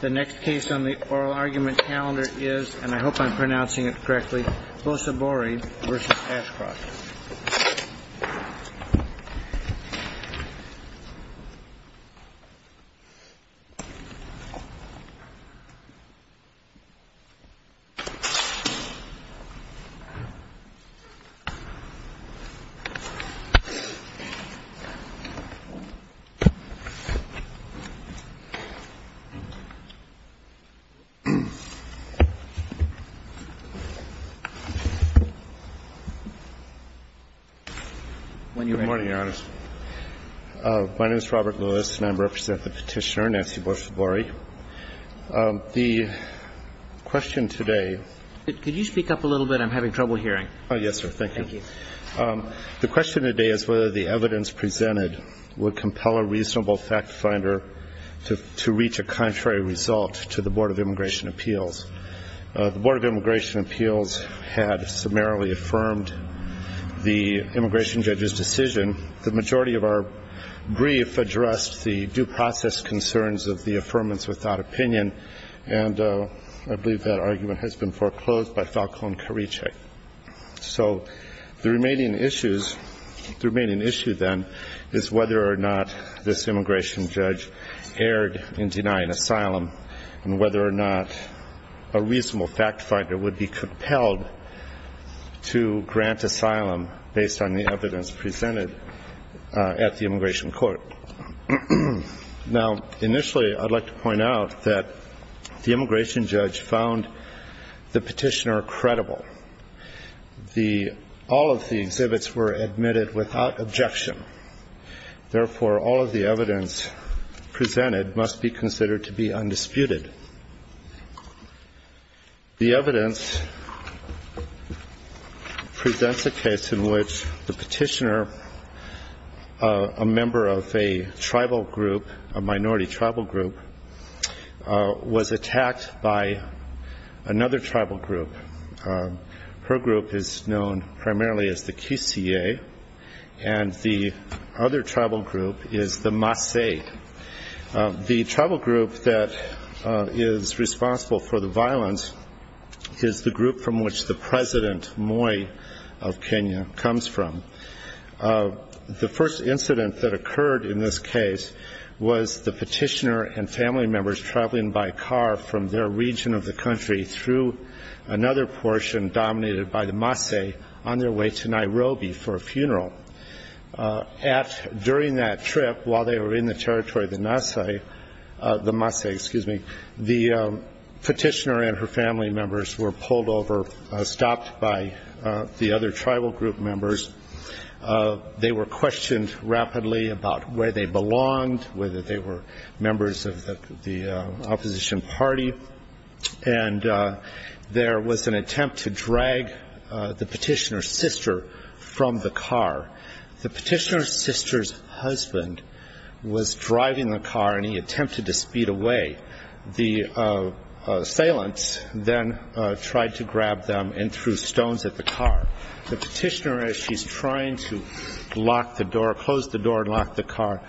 The next case on the oral argument calendar is, and I hope I'm pronouncing it correctly, Sosibori v. Ashcroft. Sosibori v. Ashcroft. The question today is whether the evidence presented would compel a reasonable fact finder to reach a contrary result to the Board of Immigration Appeals. The Board of Immigration Appeals had summarily affirmed that the evidence presented immigration judge's decision. The majority of our brief addressed the due process concerns of the affirmance without opinion, and I believe that argument has been foreclosed by Falcone-Karice. So the remaining issue, then, is whether or not this immigration judge erred in denying asylum, and whether or not a reasonable fact finder would be compelled to grant asylum based on the evidence presented at the immigration court. Now, initially, I'd like to point out that the immigration judge found the petitioner credible. All of the exhibits were admitted without objection. Therefore, all of the evidence presented must be considered to be undisputed. The evidence presents a case in which the petitioner, a member of a tribal group, a minority tribal group, was attacked by another tribal group. Her group is known primarily as the Kiseye, and the other tribal group is the Masay. The tribal group that is responsible for the violence is the group from which the president, Moi, of Kenya comes from. The first incident that occurred in this case was the petitioner and family members traveling by car from their region of the country through another portion dominated by the Masay on their way to Nairobi for a funeral. During that trip, while they were in the territory of the Masay, the petitioner and her family members were pulled over, stopped by the other tribal group members. They were questioned rapidly about where they belonged, whether they were members of the opposition party. And there was an attempt to drag the petitioner's sister from the car. The petitioner's sister's husband was driving the car, and he attempted to speed away. The assailants then tried to grab them and threw stones at the car. The petitioner, as she's trying to close the door and lock the car,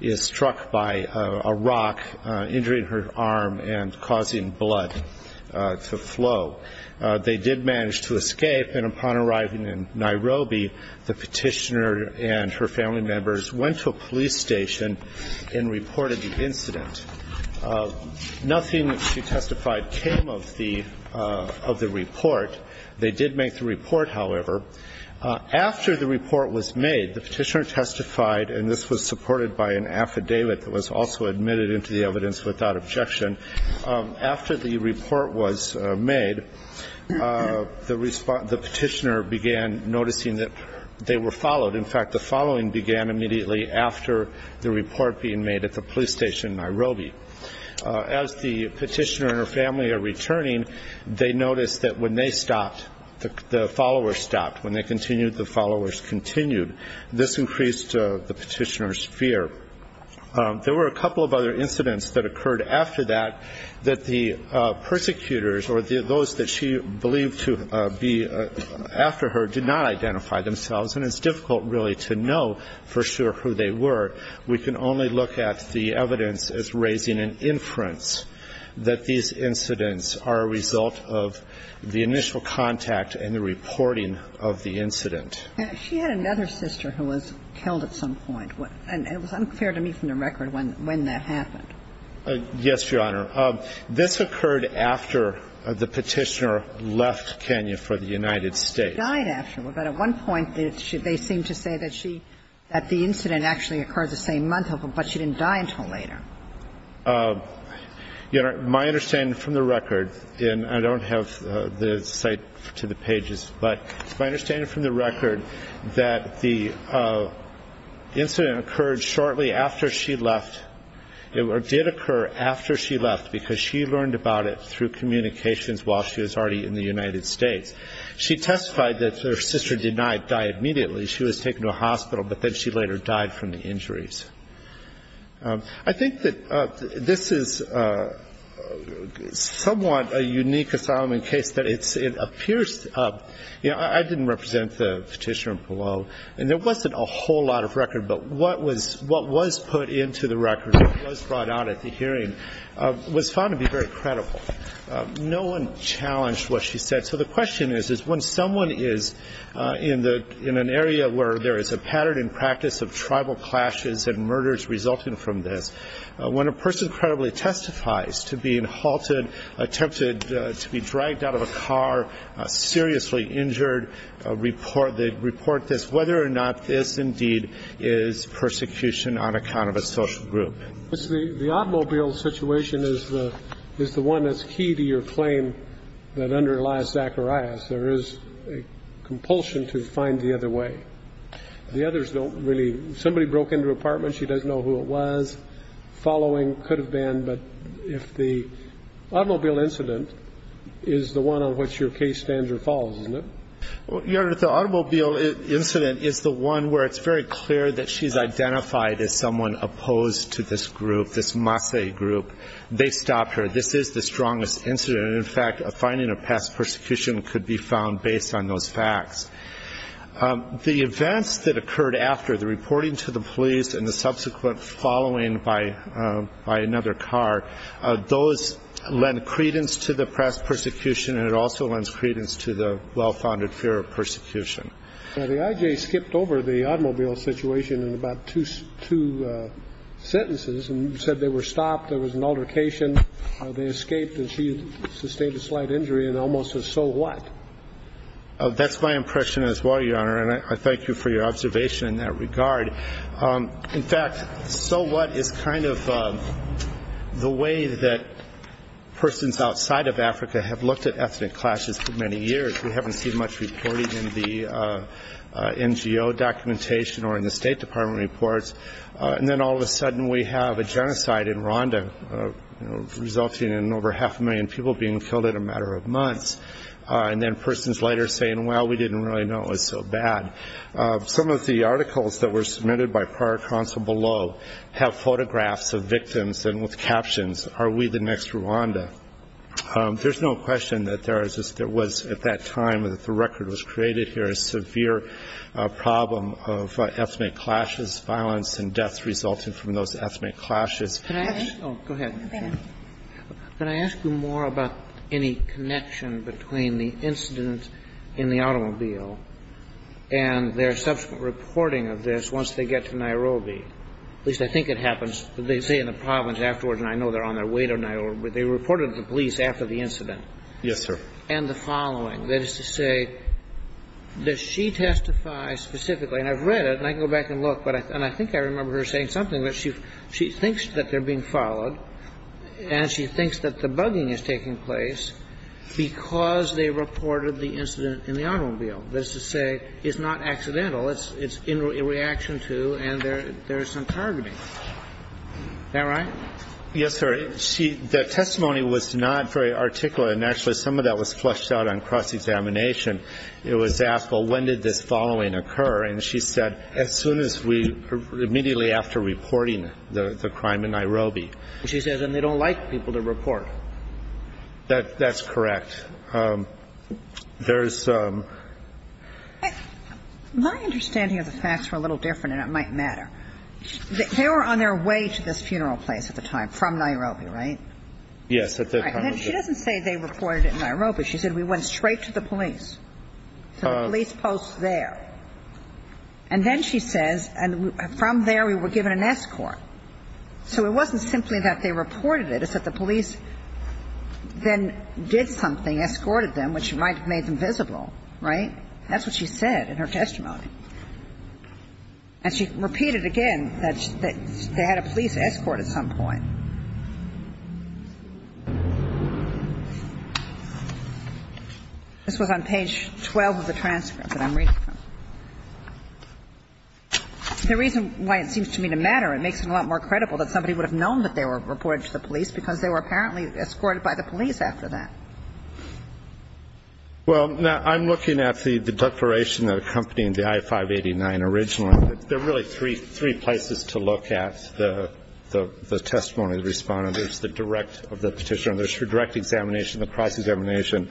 is struck by a rock injuring her arm and causing blood to flow. They did manage to escape, and upon arriving in Nairobi, the petitioner and her family members went to a police station and reported the incident. Nothing that she testified came of the report. They did make the report, however. After the report was made, the petitioner testified, and this was supported by an affidavit that was also admitted into the evidence without objection. After the report was made, the petitioner began noticing that they were followed. In fact, the following began immediately after the report being made at the police station in Nairobi. As the petitioner and her family are returning, they notice that when they stopped, the followers stopped. When they continued, the followers continued. This increased the petitioner's fear. There were a couple of other incidents that occurred after that that the persecutors or those that she believed to be after her did not identify themselves, and it's difficult really to know for sure who they were. We can only look at the evidence as raising an inference that these incidents are a result of the initial contact and the reporting of the incident. She had another sister who was killed at some point. And it was unfair to me from the record when that happened. Yes, Your Honor. This occurred after the petitioner left Kenya for the United States. She died after. But at one point, they seem to say that she, that the incident actually occurred the same month, but she didn't die until later. Your Honor, my understanding from the record, and I don't have the site to the pages, but my understanding from the record that the incident occurred shortly after she left or did occur after she left because she learned about it through communications while she was already in the United States. She testified that her sister denied dying immediately. She was taken to a hospital, but then she later died from the injuries. I think that this is somewhat a unique asylum case that it appears, you know, I didn't represent the petitioner below, and there wasn't a whole lot of record, but what was put into the record that was brought out at the hearing was found to be very credible. No one challenged what she said. So the question is, is when someone is in an area where there is a pattern in practice of tribal clashes and murders resulting from this, when a person credibly testifies to being halted, attempted to be dragged out of a car, seriously injured, report this, whether or not this indeed is persecution on account of a social group. The automobile situation is the one that's key to your claim that under Elias Zacharias there is a compulsion to find the other way. The others don't really. Somebody broke into an apartment. She doesn't know who it was. Following could have been. But if the automobile incident is the one on which your case stands or falls, isn't it? Your Honor, the automobile incident is the one where it's very clear that she's identified as someone opposed to this group, this Mase group. They stopped her. This is the strongest incident. In fact, finding a past persecution could be found based on those facts. The events that occurred after, the reporting to the police and the subsequent following by another car, those lend credence to the past persecution, and it also lends credence to the well-founded fear of persecution. The I.J. skipped over the automobile situation in about two sentences and said they were stopped, there was an altercation, they escaped, and she sustained a slight injury and almost a so what. That's my impression as well, Your Honor, and I thank you for your observation in that regard. In fact, so what is kind of the way that persons outside of Africa have looked at ethnic clashes for many years. We haven't seen much reporting in the NGO documentation or in the State Department reports, and then all of a sudden we have a genocide in Rwanda resulting in over half a million people being killed in a matter of months, and then persons later saying, well, we didn't really know it was so bad. Some of the articles that were submitted by prior counsel below have photographs of victims and with captions, are we the next Rwanda? There's no question that there was, at that time that the record was created here, a severe problem of ethnic clashes, violence and deaths resulting from those ethnic clashes. Can I ask you more about any connection between the incident in the automobile and their subsequent reporting of this once they get to Nairobi? At least I think it happens, they say in the province afterwards, and I know they're on their way to Nairobi, they reported to the police after the incident. Yes, sir. And the following. That is to say, does she testify specifically, and I've read it and I can go back and look, and I think I remember her saying something, but she thinks that they're being followed and she thinks that the bugging is taking place because they reported the incident in the automobile. That is to say, it's not accidental. It's in reaction to and there's some targeting. Is that right? Yes, sir. The testimony was not very articulate, and actually some of that was fleshed out on cross-examination. It was asked, well, when did this following occur? And she said, as soon as we, immediately after reporting the crime in Nairobi. She says, and they don't like people to report. That's correct. There's some. My understanding of the facts were a little different, and it might matter. They were on their way to this funeral place at the time from Nairobi, right? Yes. She doesn't say they reported it in Nairobi. She said we went straight to the police. So the police post there. And then she says, and from there we were given an escort. So it wasn't simply that they reported it. It's that the police then did something, escorted them, which might have made them visible, right? That's what she said in her testimony. And she repeated again that they had a police escort at some point. This was on page 12 of the transcript that I'm reading from. The reason why it seems to me to matter, it makes it a lot more credible that somebody would have known that they were reported to the police because they were apparently escorted by the police after that. Well, I'm looking at the declaration that accompanied the I-589 originally. There are really three places to look at the testimony of the respondent. There's the direct of the petitioner. There's her direct examination, the cross-examination,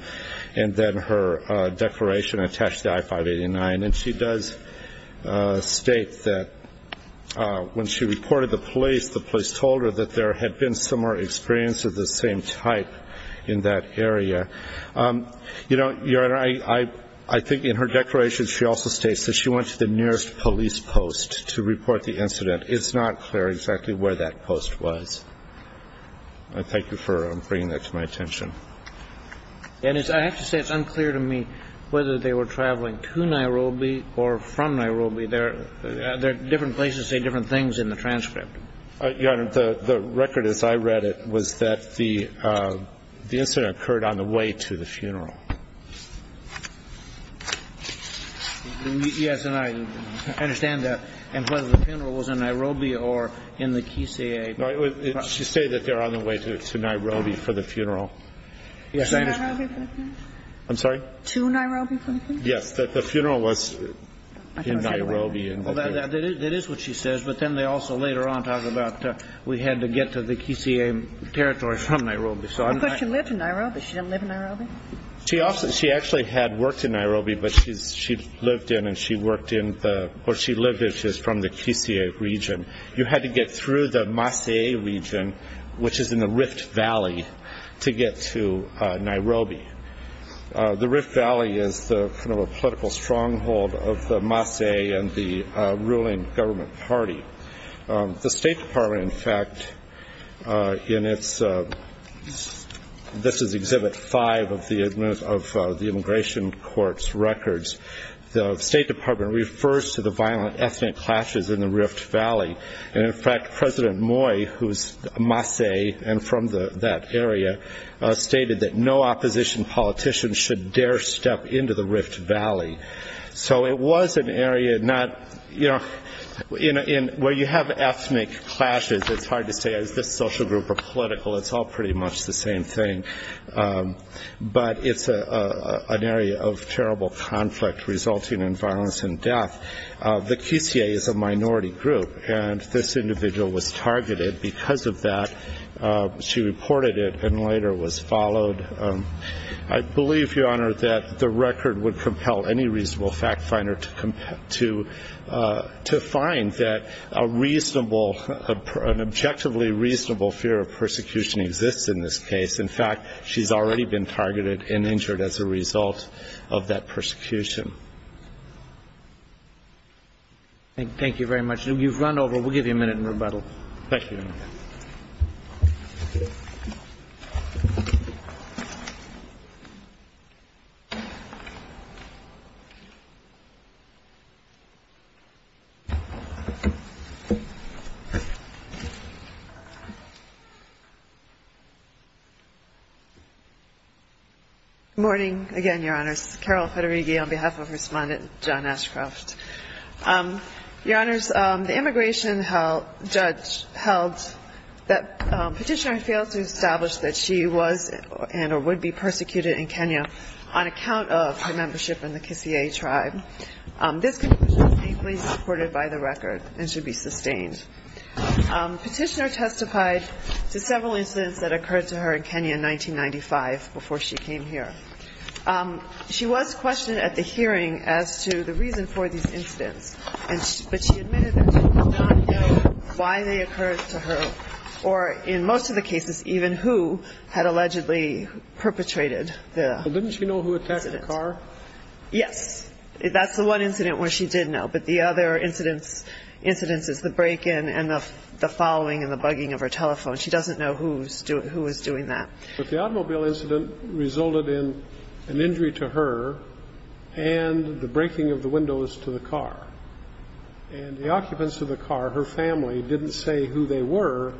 and then her declaration attached to the I-589. And she does state that when she reported to the police, the police told her that there had been similar experience of the same type in that area. You know, Your Honor, I think in her declaration she also states that she went to the nearest police post to report the incident. It's not clear exactly where that post was. I thank you for bringing that to my attention. And I have to say it's unclear to me whether they were traveling to Nairobi or from There are different places saying different things in the transcript. Your Honor, the record as I read it was that the incident occurred on the way to the funeral. Yes, and I understand that. And whether the funeral was in Nairobi or in the Kisii. She said that they were on the way to Nairobi for the funeral. To Nairobi for the funeral? I'm sorry? Yes, that the funeral was in Nairobi. Well, that is what she says. But then they also later on talk about we had to get to the Kisii territory from Nairobi. Of course, she lived in Nairobi. She didn't live in Nairobi? She actually had worked in Nairobi, but she lived in and she worked in the or she lived from the Kisii region. You had to get through the Maasai region, which is in the Rift Valley, to get to Nairobi. The Rift Valley is the political stronghold of the Maasai and the ruling government party. The State Department, in fact, in its this is Exhibit 5 of the Immigration Court's records. The State Department refers to the violent ethnic clashes in the Rift Valley. And, in fact, President Moy, who is Maasai and from that area, stated that no opposition politician should dare step into the Rift Valley. So it was an area not, you know, where you have ethnic clashes, it's hard to say is this social group or political. It's all pretty much the same thing. But it's an area of terrible conflict resulting in violence and death. The Kisii is a minority group. And this individual was targeted because of that. She reported it and later was followed. I believe, Your Honor, that the record would compel any reasonable fact finder to find that a reasonable, an objectively reasonable fear of persecution exists in this case. In fact, she's already been targeted and injured as a result of that persecution. Thank you very much. You've run over. We'll give you a minute in rebuttal. Thank you, Your Honor. Good morning again, Your Honors. Carol Federighi on behalf of Respondent John Ashcroft. Your Honors, the immigration judge held that Petitioner failed to establish that she was and or would be persecuted in Kenya on account of her membership in the Kisii tribe. This condition was painfully supported by the record and should be sustained. Petitioner testified to several incidents that occurred to her in Kenya in 1995 before she came here. She was questioned at the hearing as to the reason for these incidents, but she admitted that she did not know why they occurred to her or, in most of the cases, even who had allegedly perpetrated the incident. Didn't she know who attacked the car? Yes. That's the one incident where she did know, but the other incidents is the break-in and the following and the bugging of her telephone. She doesn't know who was doing that. But the automobile incident resulted in an injury to her and the breaking of the windows to the car. And the occupants of the car, her family, didn't say who they were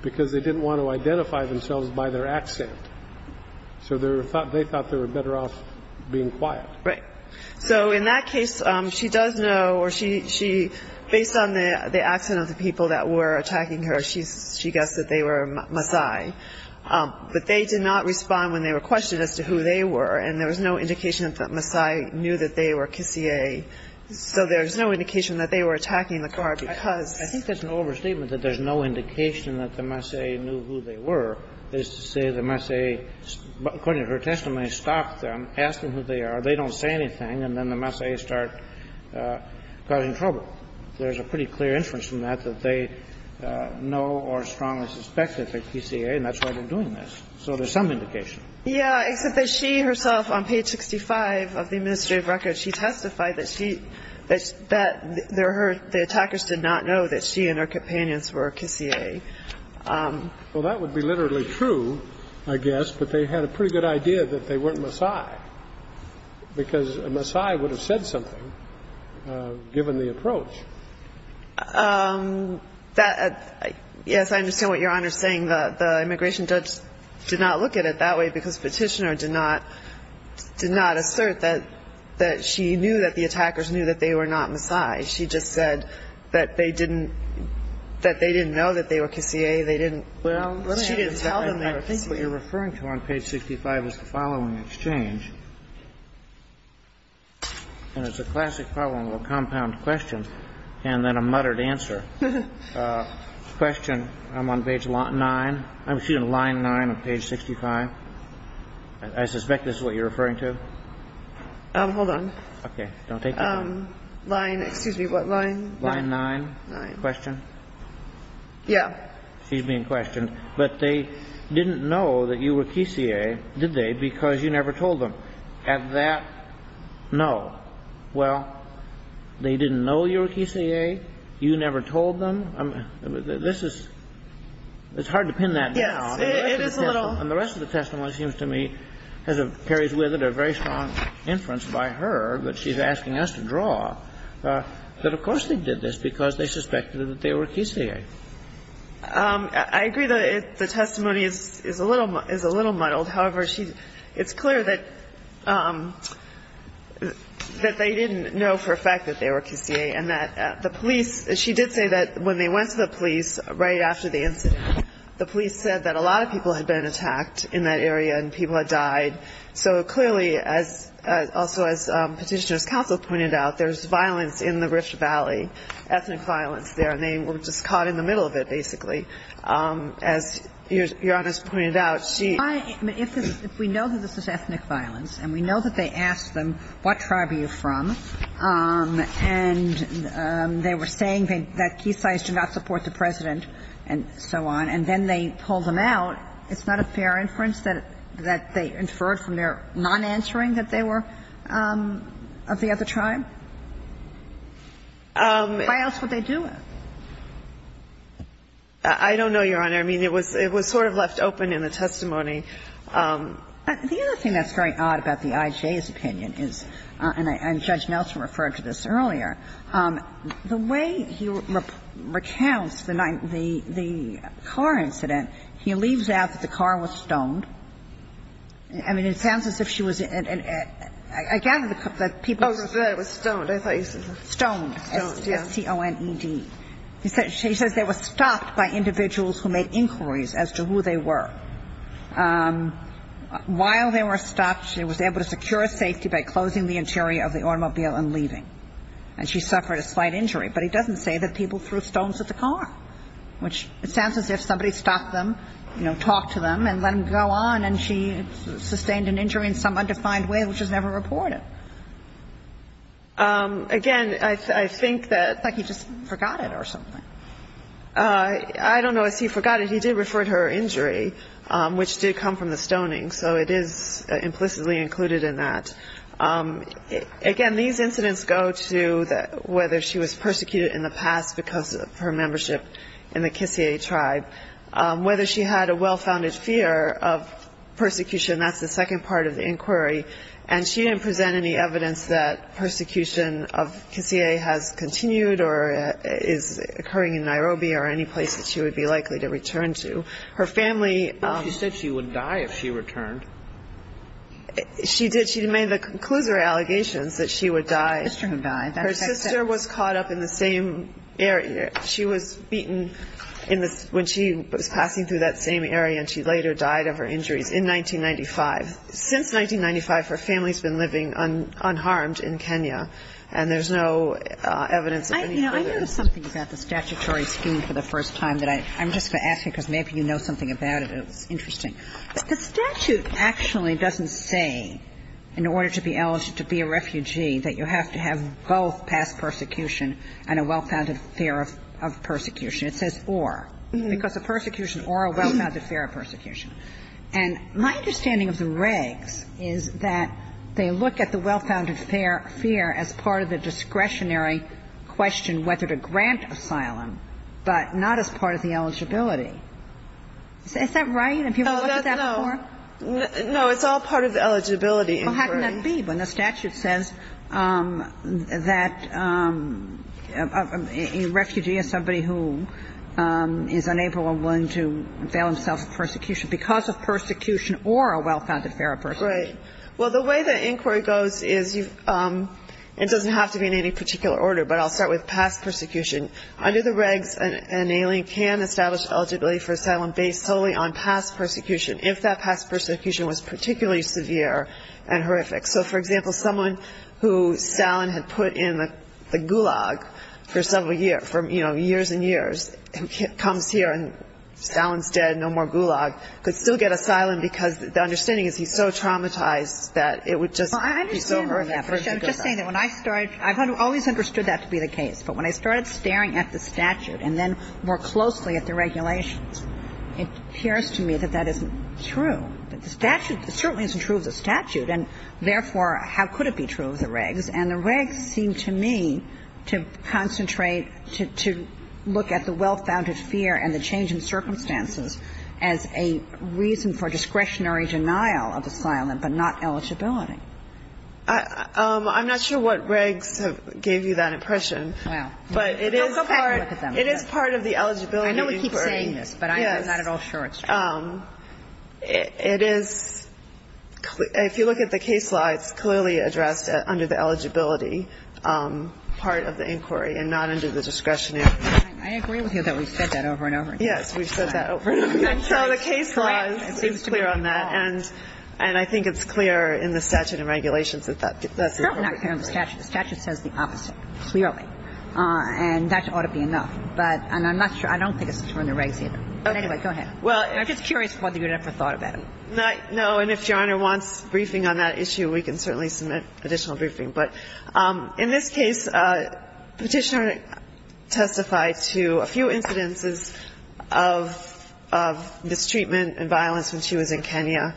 because they didn't want to identify themselves by their accent. So they thought they were better off being quiet. Right. So in that case, she does know, or she, based on the accent of the people that were attacking her, she guessed that they were Maasai. But they did not respond when they were questioned as to who they were, and there was no indication that Maasai knew that they were Kisii. So there's no indication that they were attacking the car because of that. I think that's an overstatement that there's no indication that the Maasai knew who they were, is to say the Maasai, according to her testimony, stopped them, asked them who they are. They don't say anything, and then the Maasai start causing trouble. There's a pretty clear inference from that that they know or strongly suspect that they're Kisii, and that's why they're doing this. So there's some indication. Yeah, except that she herself, on page 65 of the administrative record, she testified that she, that the attackers did not know that she and her companions were Kisii. Well, that would be literally true, I guess, but they had a pretty good idea that they weren't Maasai, because a Maasai would have said something, given the approach. That, yes, I understand what Your Honor is saying. The immigration judge did not look at it that way because Petitioner did not, did not assert that, that she knew that the attackers knew that they were not Maasai. She just said that they didn't, that they didn't know that they were Kisii. They didn't, she didn't tell them they were Kisii. I think what you're referring to on page 65 is the following exchange, and it's a classic following of a compound question and then a muttered answer. Question, I'm on page 9, excuse me, line 9 of page 65. I suspect this is what you're referring to. Hold on. Okay. Don't take it away. Line, excuse me, what line? Line 9. Line 9. Question? Yeah. Excuse me, in question. But they didn't know that you were Kisii, did they, because you never told them. Had that, no. Well, they didn't know you were Kisii. You never told them. This is, it's hard to pin that down. Yes, it is a little. And the rest of the testimony seems to me, as it carries with it, a very strong inference by her that she's asking us to draw, that of course they did this because they suspected that they were Kisii. I agree that the testimony is a little, is a little muddled. However, she, it's clear that they didn't know for a fact that they were Kisii and that the police, she did say that when they went to the police right after the incident, the police said that a lot of people had been attacked in that area and people had died. So clearly, as also as Petitioner's Counsel pointed out, there's violence in the Rift Valley, ethnic violence there, and they were just caught in the middle of it basically. As Your Honor's pointed out, she If we know that this is ethnic violence and we know that they asked them, what tribe are you from, and they were saying that Kisii did not support the President and so on, and then they pulled them out, it's not a fair inference that they inferred from their non-answering that they were of the other Why else would they do it? I don't know, Your Honor. I mean, it was, it was sort of left open in the testimony. The other thing that's very odd about the IJ's opinion is, and Judge Nelson referred to this earlier, the way he recounts the car incident, he leaves out that the car was stoned. I mean, it sounds as if she was at, I gather that people, stoned, s-t-o-n-e-d. She says they were stopped by individuals who made inquiries as to who they were. While they were stopped, she was able to secure safety by closing the interior of the automobile and leaving. And she suffered a slight injury. But he doesn't say that people threw stones at the car, which sounds as if somebody stopped them, you know, talked to them and let them go on, and she sustained an injury in some undefined way, which was never reported. Again, I think that he just forgot it or something. I don't know if he forgot it. He did refer to her injury, which did come from the stoning. So it is implicitly included in that. Again, these incidents go to whether she was persecuted in the past because of her membership in the Kissier tribe. Whether she had a well-founded fear of persecution, that's the second part of the inquiry. And she didn't present any evidence that persecution of Kissier has continued or is occurring in Nairobi or any place that she would be likely to return to. Her family ---- She said she would die if she returned. She did. She made the conclusive allegations that she would die. Her sister was caught up in the same area. She was beaten when she was passing through that same area, and she later died of her injuries in 1995. Since 1995, her family has been living unharmed in Kenya, and there's no evidence of any further ---- I know something about the statutory scheme for the first time that I'm just going to ask you because maybe you know something about it. It's interesting. The statute actually doesn't say in order to be eligible to be a refugee that you have to have both past persecution and a well-founded fear of persecution. And my understanding of the regs is that they look at the well-founded fear as part of the discretionary question whether to grant asylum, but not as part of the eligibility. Is that right? Have you ever looked at that before? No. It's all part of the eligibility inquiry. Well, how can that be when the statute says that a refugee is somebody who is unable or willing to avail himself of persecution because of persecution or a well-founded fear of persecution? Right. Well, the way the inquiry goes is it doesn't have to be in any particular order, but I'll start with past persecution. Under the regs, an alien can establish eligibility for asylum based solely on past persecution if that past persecution was particularly severe and horrific. So, for example, someone who Stalin had put in the Gulag for several years, you know, Stalin's dead, no more Gulag, could still get asylum because the understanding is he's so traumatized that it would just be so horrific for him to go back. Well, I understand that. I'm just saying that when I started, I've always understood that to be the case. But when I started staring at the statute and then more closely at the regulations, it appears to me that that isn't true. The statute, it certainly isn't true of the statute, and therefore, how could it be true of the regs? And the regs seem to me to concentrate, to look at the well-founded fear and the change in circumstances as a reason for discretionary denial of asylum but not eligibility. I'm not sure what regs have gave you that impression. Well. But it is part of the eligibility inquiry. I know we keep saying this, but I'm not at all sure it's true. It is. If you look at the case law, it's clearly addressed under the eligibility part of the inquiry and not under the discretionary. I agree with you that we've said that over and over again. Yes, we've said that over and over again. And so the case law is clear on that, and I think it's clear in the statute and regulations that that's the appropriate way. It's certainly not clear on the statute. The statute says the opposite, clearly. And that ought to be enough. But I'm not sure. I don't think it's true on the regs either. Anyway, go ahead. I'm just curious whether you'd ever thought about it. No. And if Your Honor wants briefing on that issue, we can certainly submit additional briefing. But in this case, Petitioner testified to a few incidences of mistreatment and violence when she was in Kenya.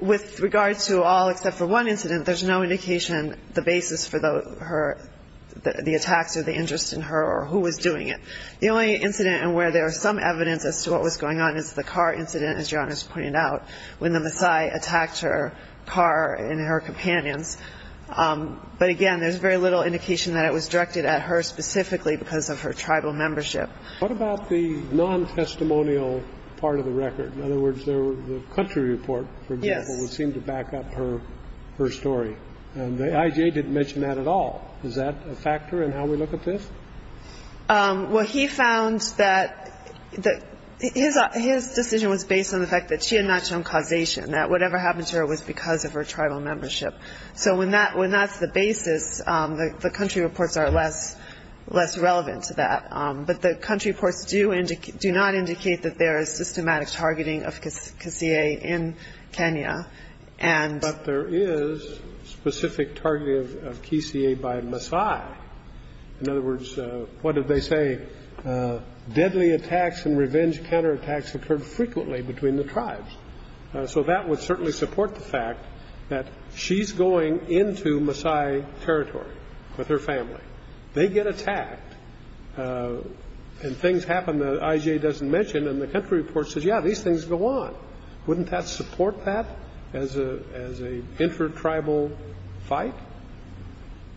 With regard to all except for one incident, there's no indication the basis for the attacks or the interest in her or who was doing it. The only incident where there is some evidence as to what was going on is the car incident, as Your Honor has pointed out, when the Maasai attacked her car and her companions. But, again, there's very little indication that it was directed at her specifically because of her tribal membership. What about the non-testimonial part of the record? In other words, the country report, for example, would seem to back up her story. And the IJA didn't mention that at all. Is that a factor in how we look at this? Well, he found that his decision was based on the fact that she had not shown causation, that whatever happened to her was because of her tribal membership. So when that's the basis, the country reports are less relevant to that. But the country reports do not indicate that there is systematic targeting of Kisieh in Kenya. But there is specific targeting of Kisieh by Maasai. In other words, what did they say? Deadly attacks and revenge counterattacks occurred frequently between the tribes. So that would certainly support the fact that she's going into Maasai territory with her family. They get attacked and things happen that the IJA doesn't mention. And the country report says, yeah, these things go on. Wouldn't that support that as an intertribal fight?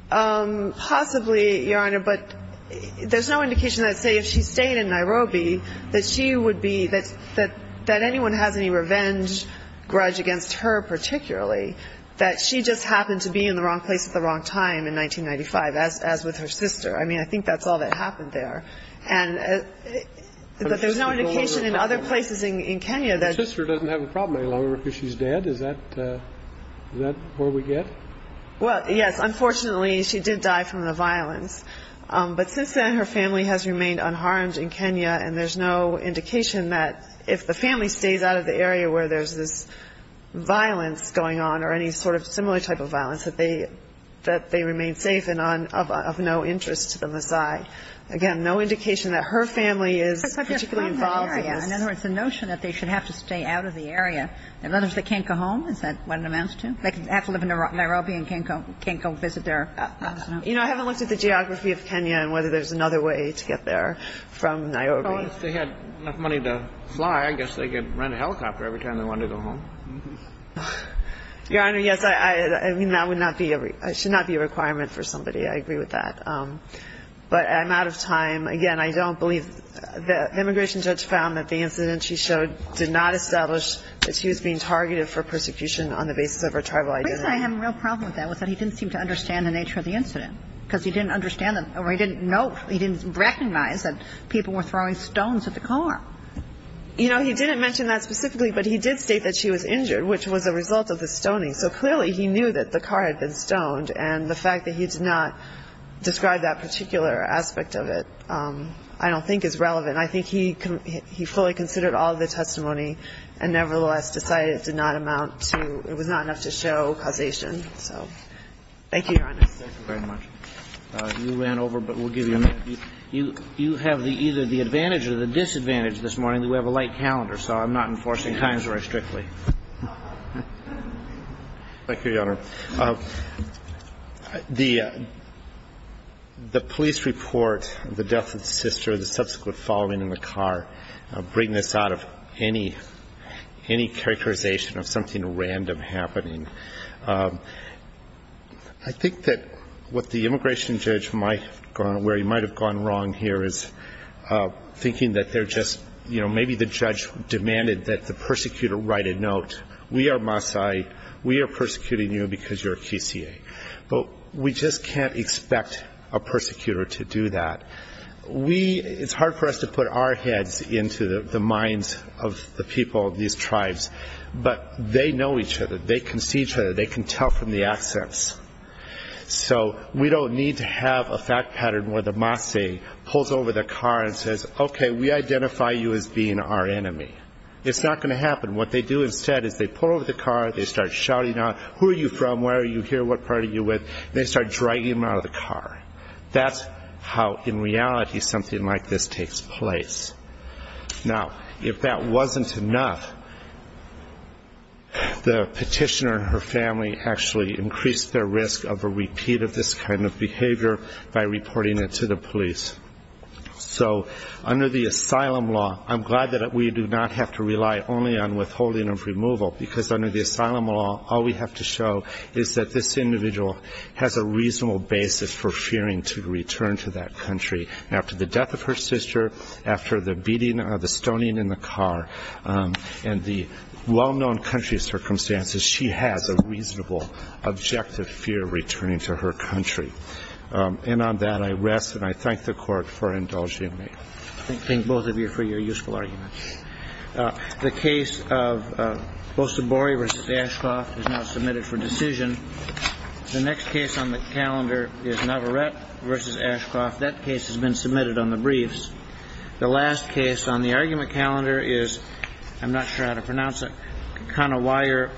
Possibly, Your Honor, but there's no indication that, say, if she stayed in Nairobi, that she would be that anyone has any revenge grudge against her particularly, that she just happened to be in the wrong place at the wrong time in 1995, as with her sister. I mean, I think that's all that happened there. But there's no indication in other places in Kenya that. Her sister doesn't have a problem any longer because she's dead. Is that where we get? Well, yes. Unfortunately, she did die from the violence. But since then, her family has remained unharmed in Kenya, and there's no indication that if the family stays out of the area where there's this violence going on or any sort of similar type of violence, that they remain safe and of no interest to the Maasai. Again, no indication that her family is particularly involved in this. In other words, the notion that they should have to stay out of the area. In other words, they can't go home? Is that what it amounts to? They have to live in Nairobi and can't go visit their relatives? You know, I haven't looked at the geography of Kenya and whether there's another way to get there from Nairobi. If they had enough money to fly, I guess they could rent a helicopter every time they wanted to go home. Your Honor, yes. I mean, that would not be a requirement for somebody. I agree with that. But I'm out of time. Again, I don't believe the immigration judge found that the incident she showed did not establish that she was being targeted for persecution on the basis of her tribal identity. The reason I have a real problem with that was that he didn't seem to understand the nature of the incident, because he didn't understand or he didn't know, he didn't recognize that people were throwing stones at the car. You know, he didn't mention that specifically, but he did state that she was injured, which was a result of the stoning. So clearly he knew that the car had been stoned, and the fact that he did not describe that particular aspect of it I don't think is relevant. I think he fully considered all of the testimony and nevertheless decided it did not enough to show causation. So thank you, Your Honor. Thank you very much. You ran over, but we'll give you a minute. You have either the advantage or the disadvantage this morning that we have a late calendar, so I'm not enforcing times very strictly. Thank you, Your Honor. The police report, the death of the sister, the subsequent falling in the car, bring this out of any characterization of something random happening. I think that what the immigration judge, where he might have gone wrong here, is thinking that they're just, you know, maybe the judge demanded that the persecutor write a note, we are Maasai, we are persecuting you because you're a QCA. But we just can't expect a persecutor to do that. It's hard for us to put our heads into the minds of the people of these tribes, but they know each other, they can see each other, they can tell from the accents. So we don't need to have a fact pattern where the Maasai pulls over their car and says, okay, we identify you as being our enemy. It's not going to happen. What they do instead is they pull over the car, they start shouting out, who are you from, where are you here, what part are you with, and they start dragging them out of the car. That's how, in reality, something like this takes place. Now, if that wasn't enough, the petitioner and her family actually increased their risk of a repeat of this kind of behavior by reporting it to the police. So under the asylum law, I'm glad that we do not have to rely only on withholding of removal, because under the asylum law, all we have to show is that this individual has a reasonable basis for fearing to return to that country. After the death of her sister, after the beating or the stoning in the car, and the well-known country circumstances, she has a reasonable, objective fear of returning to her country. And on that, I rest and I thank the Court for indulging me. I thank both of you for your useful arguments. The case of Bosse-Borre v. Ashcroft is now submitted for decision. The next case on the calendar is Navarette v. Ashcroft. That case has been submitted on the briefs. The last case on the argument calendar is, I'm not sure how to pronounce it, Conawayer v. Barnhart.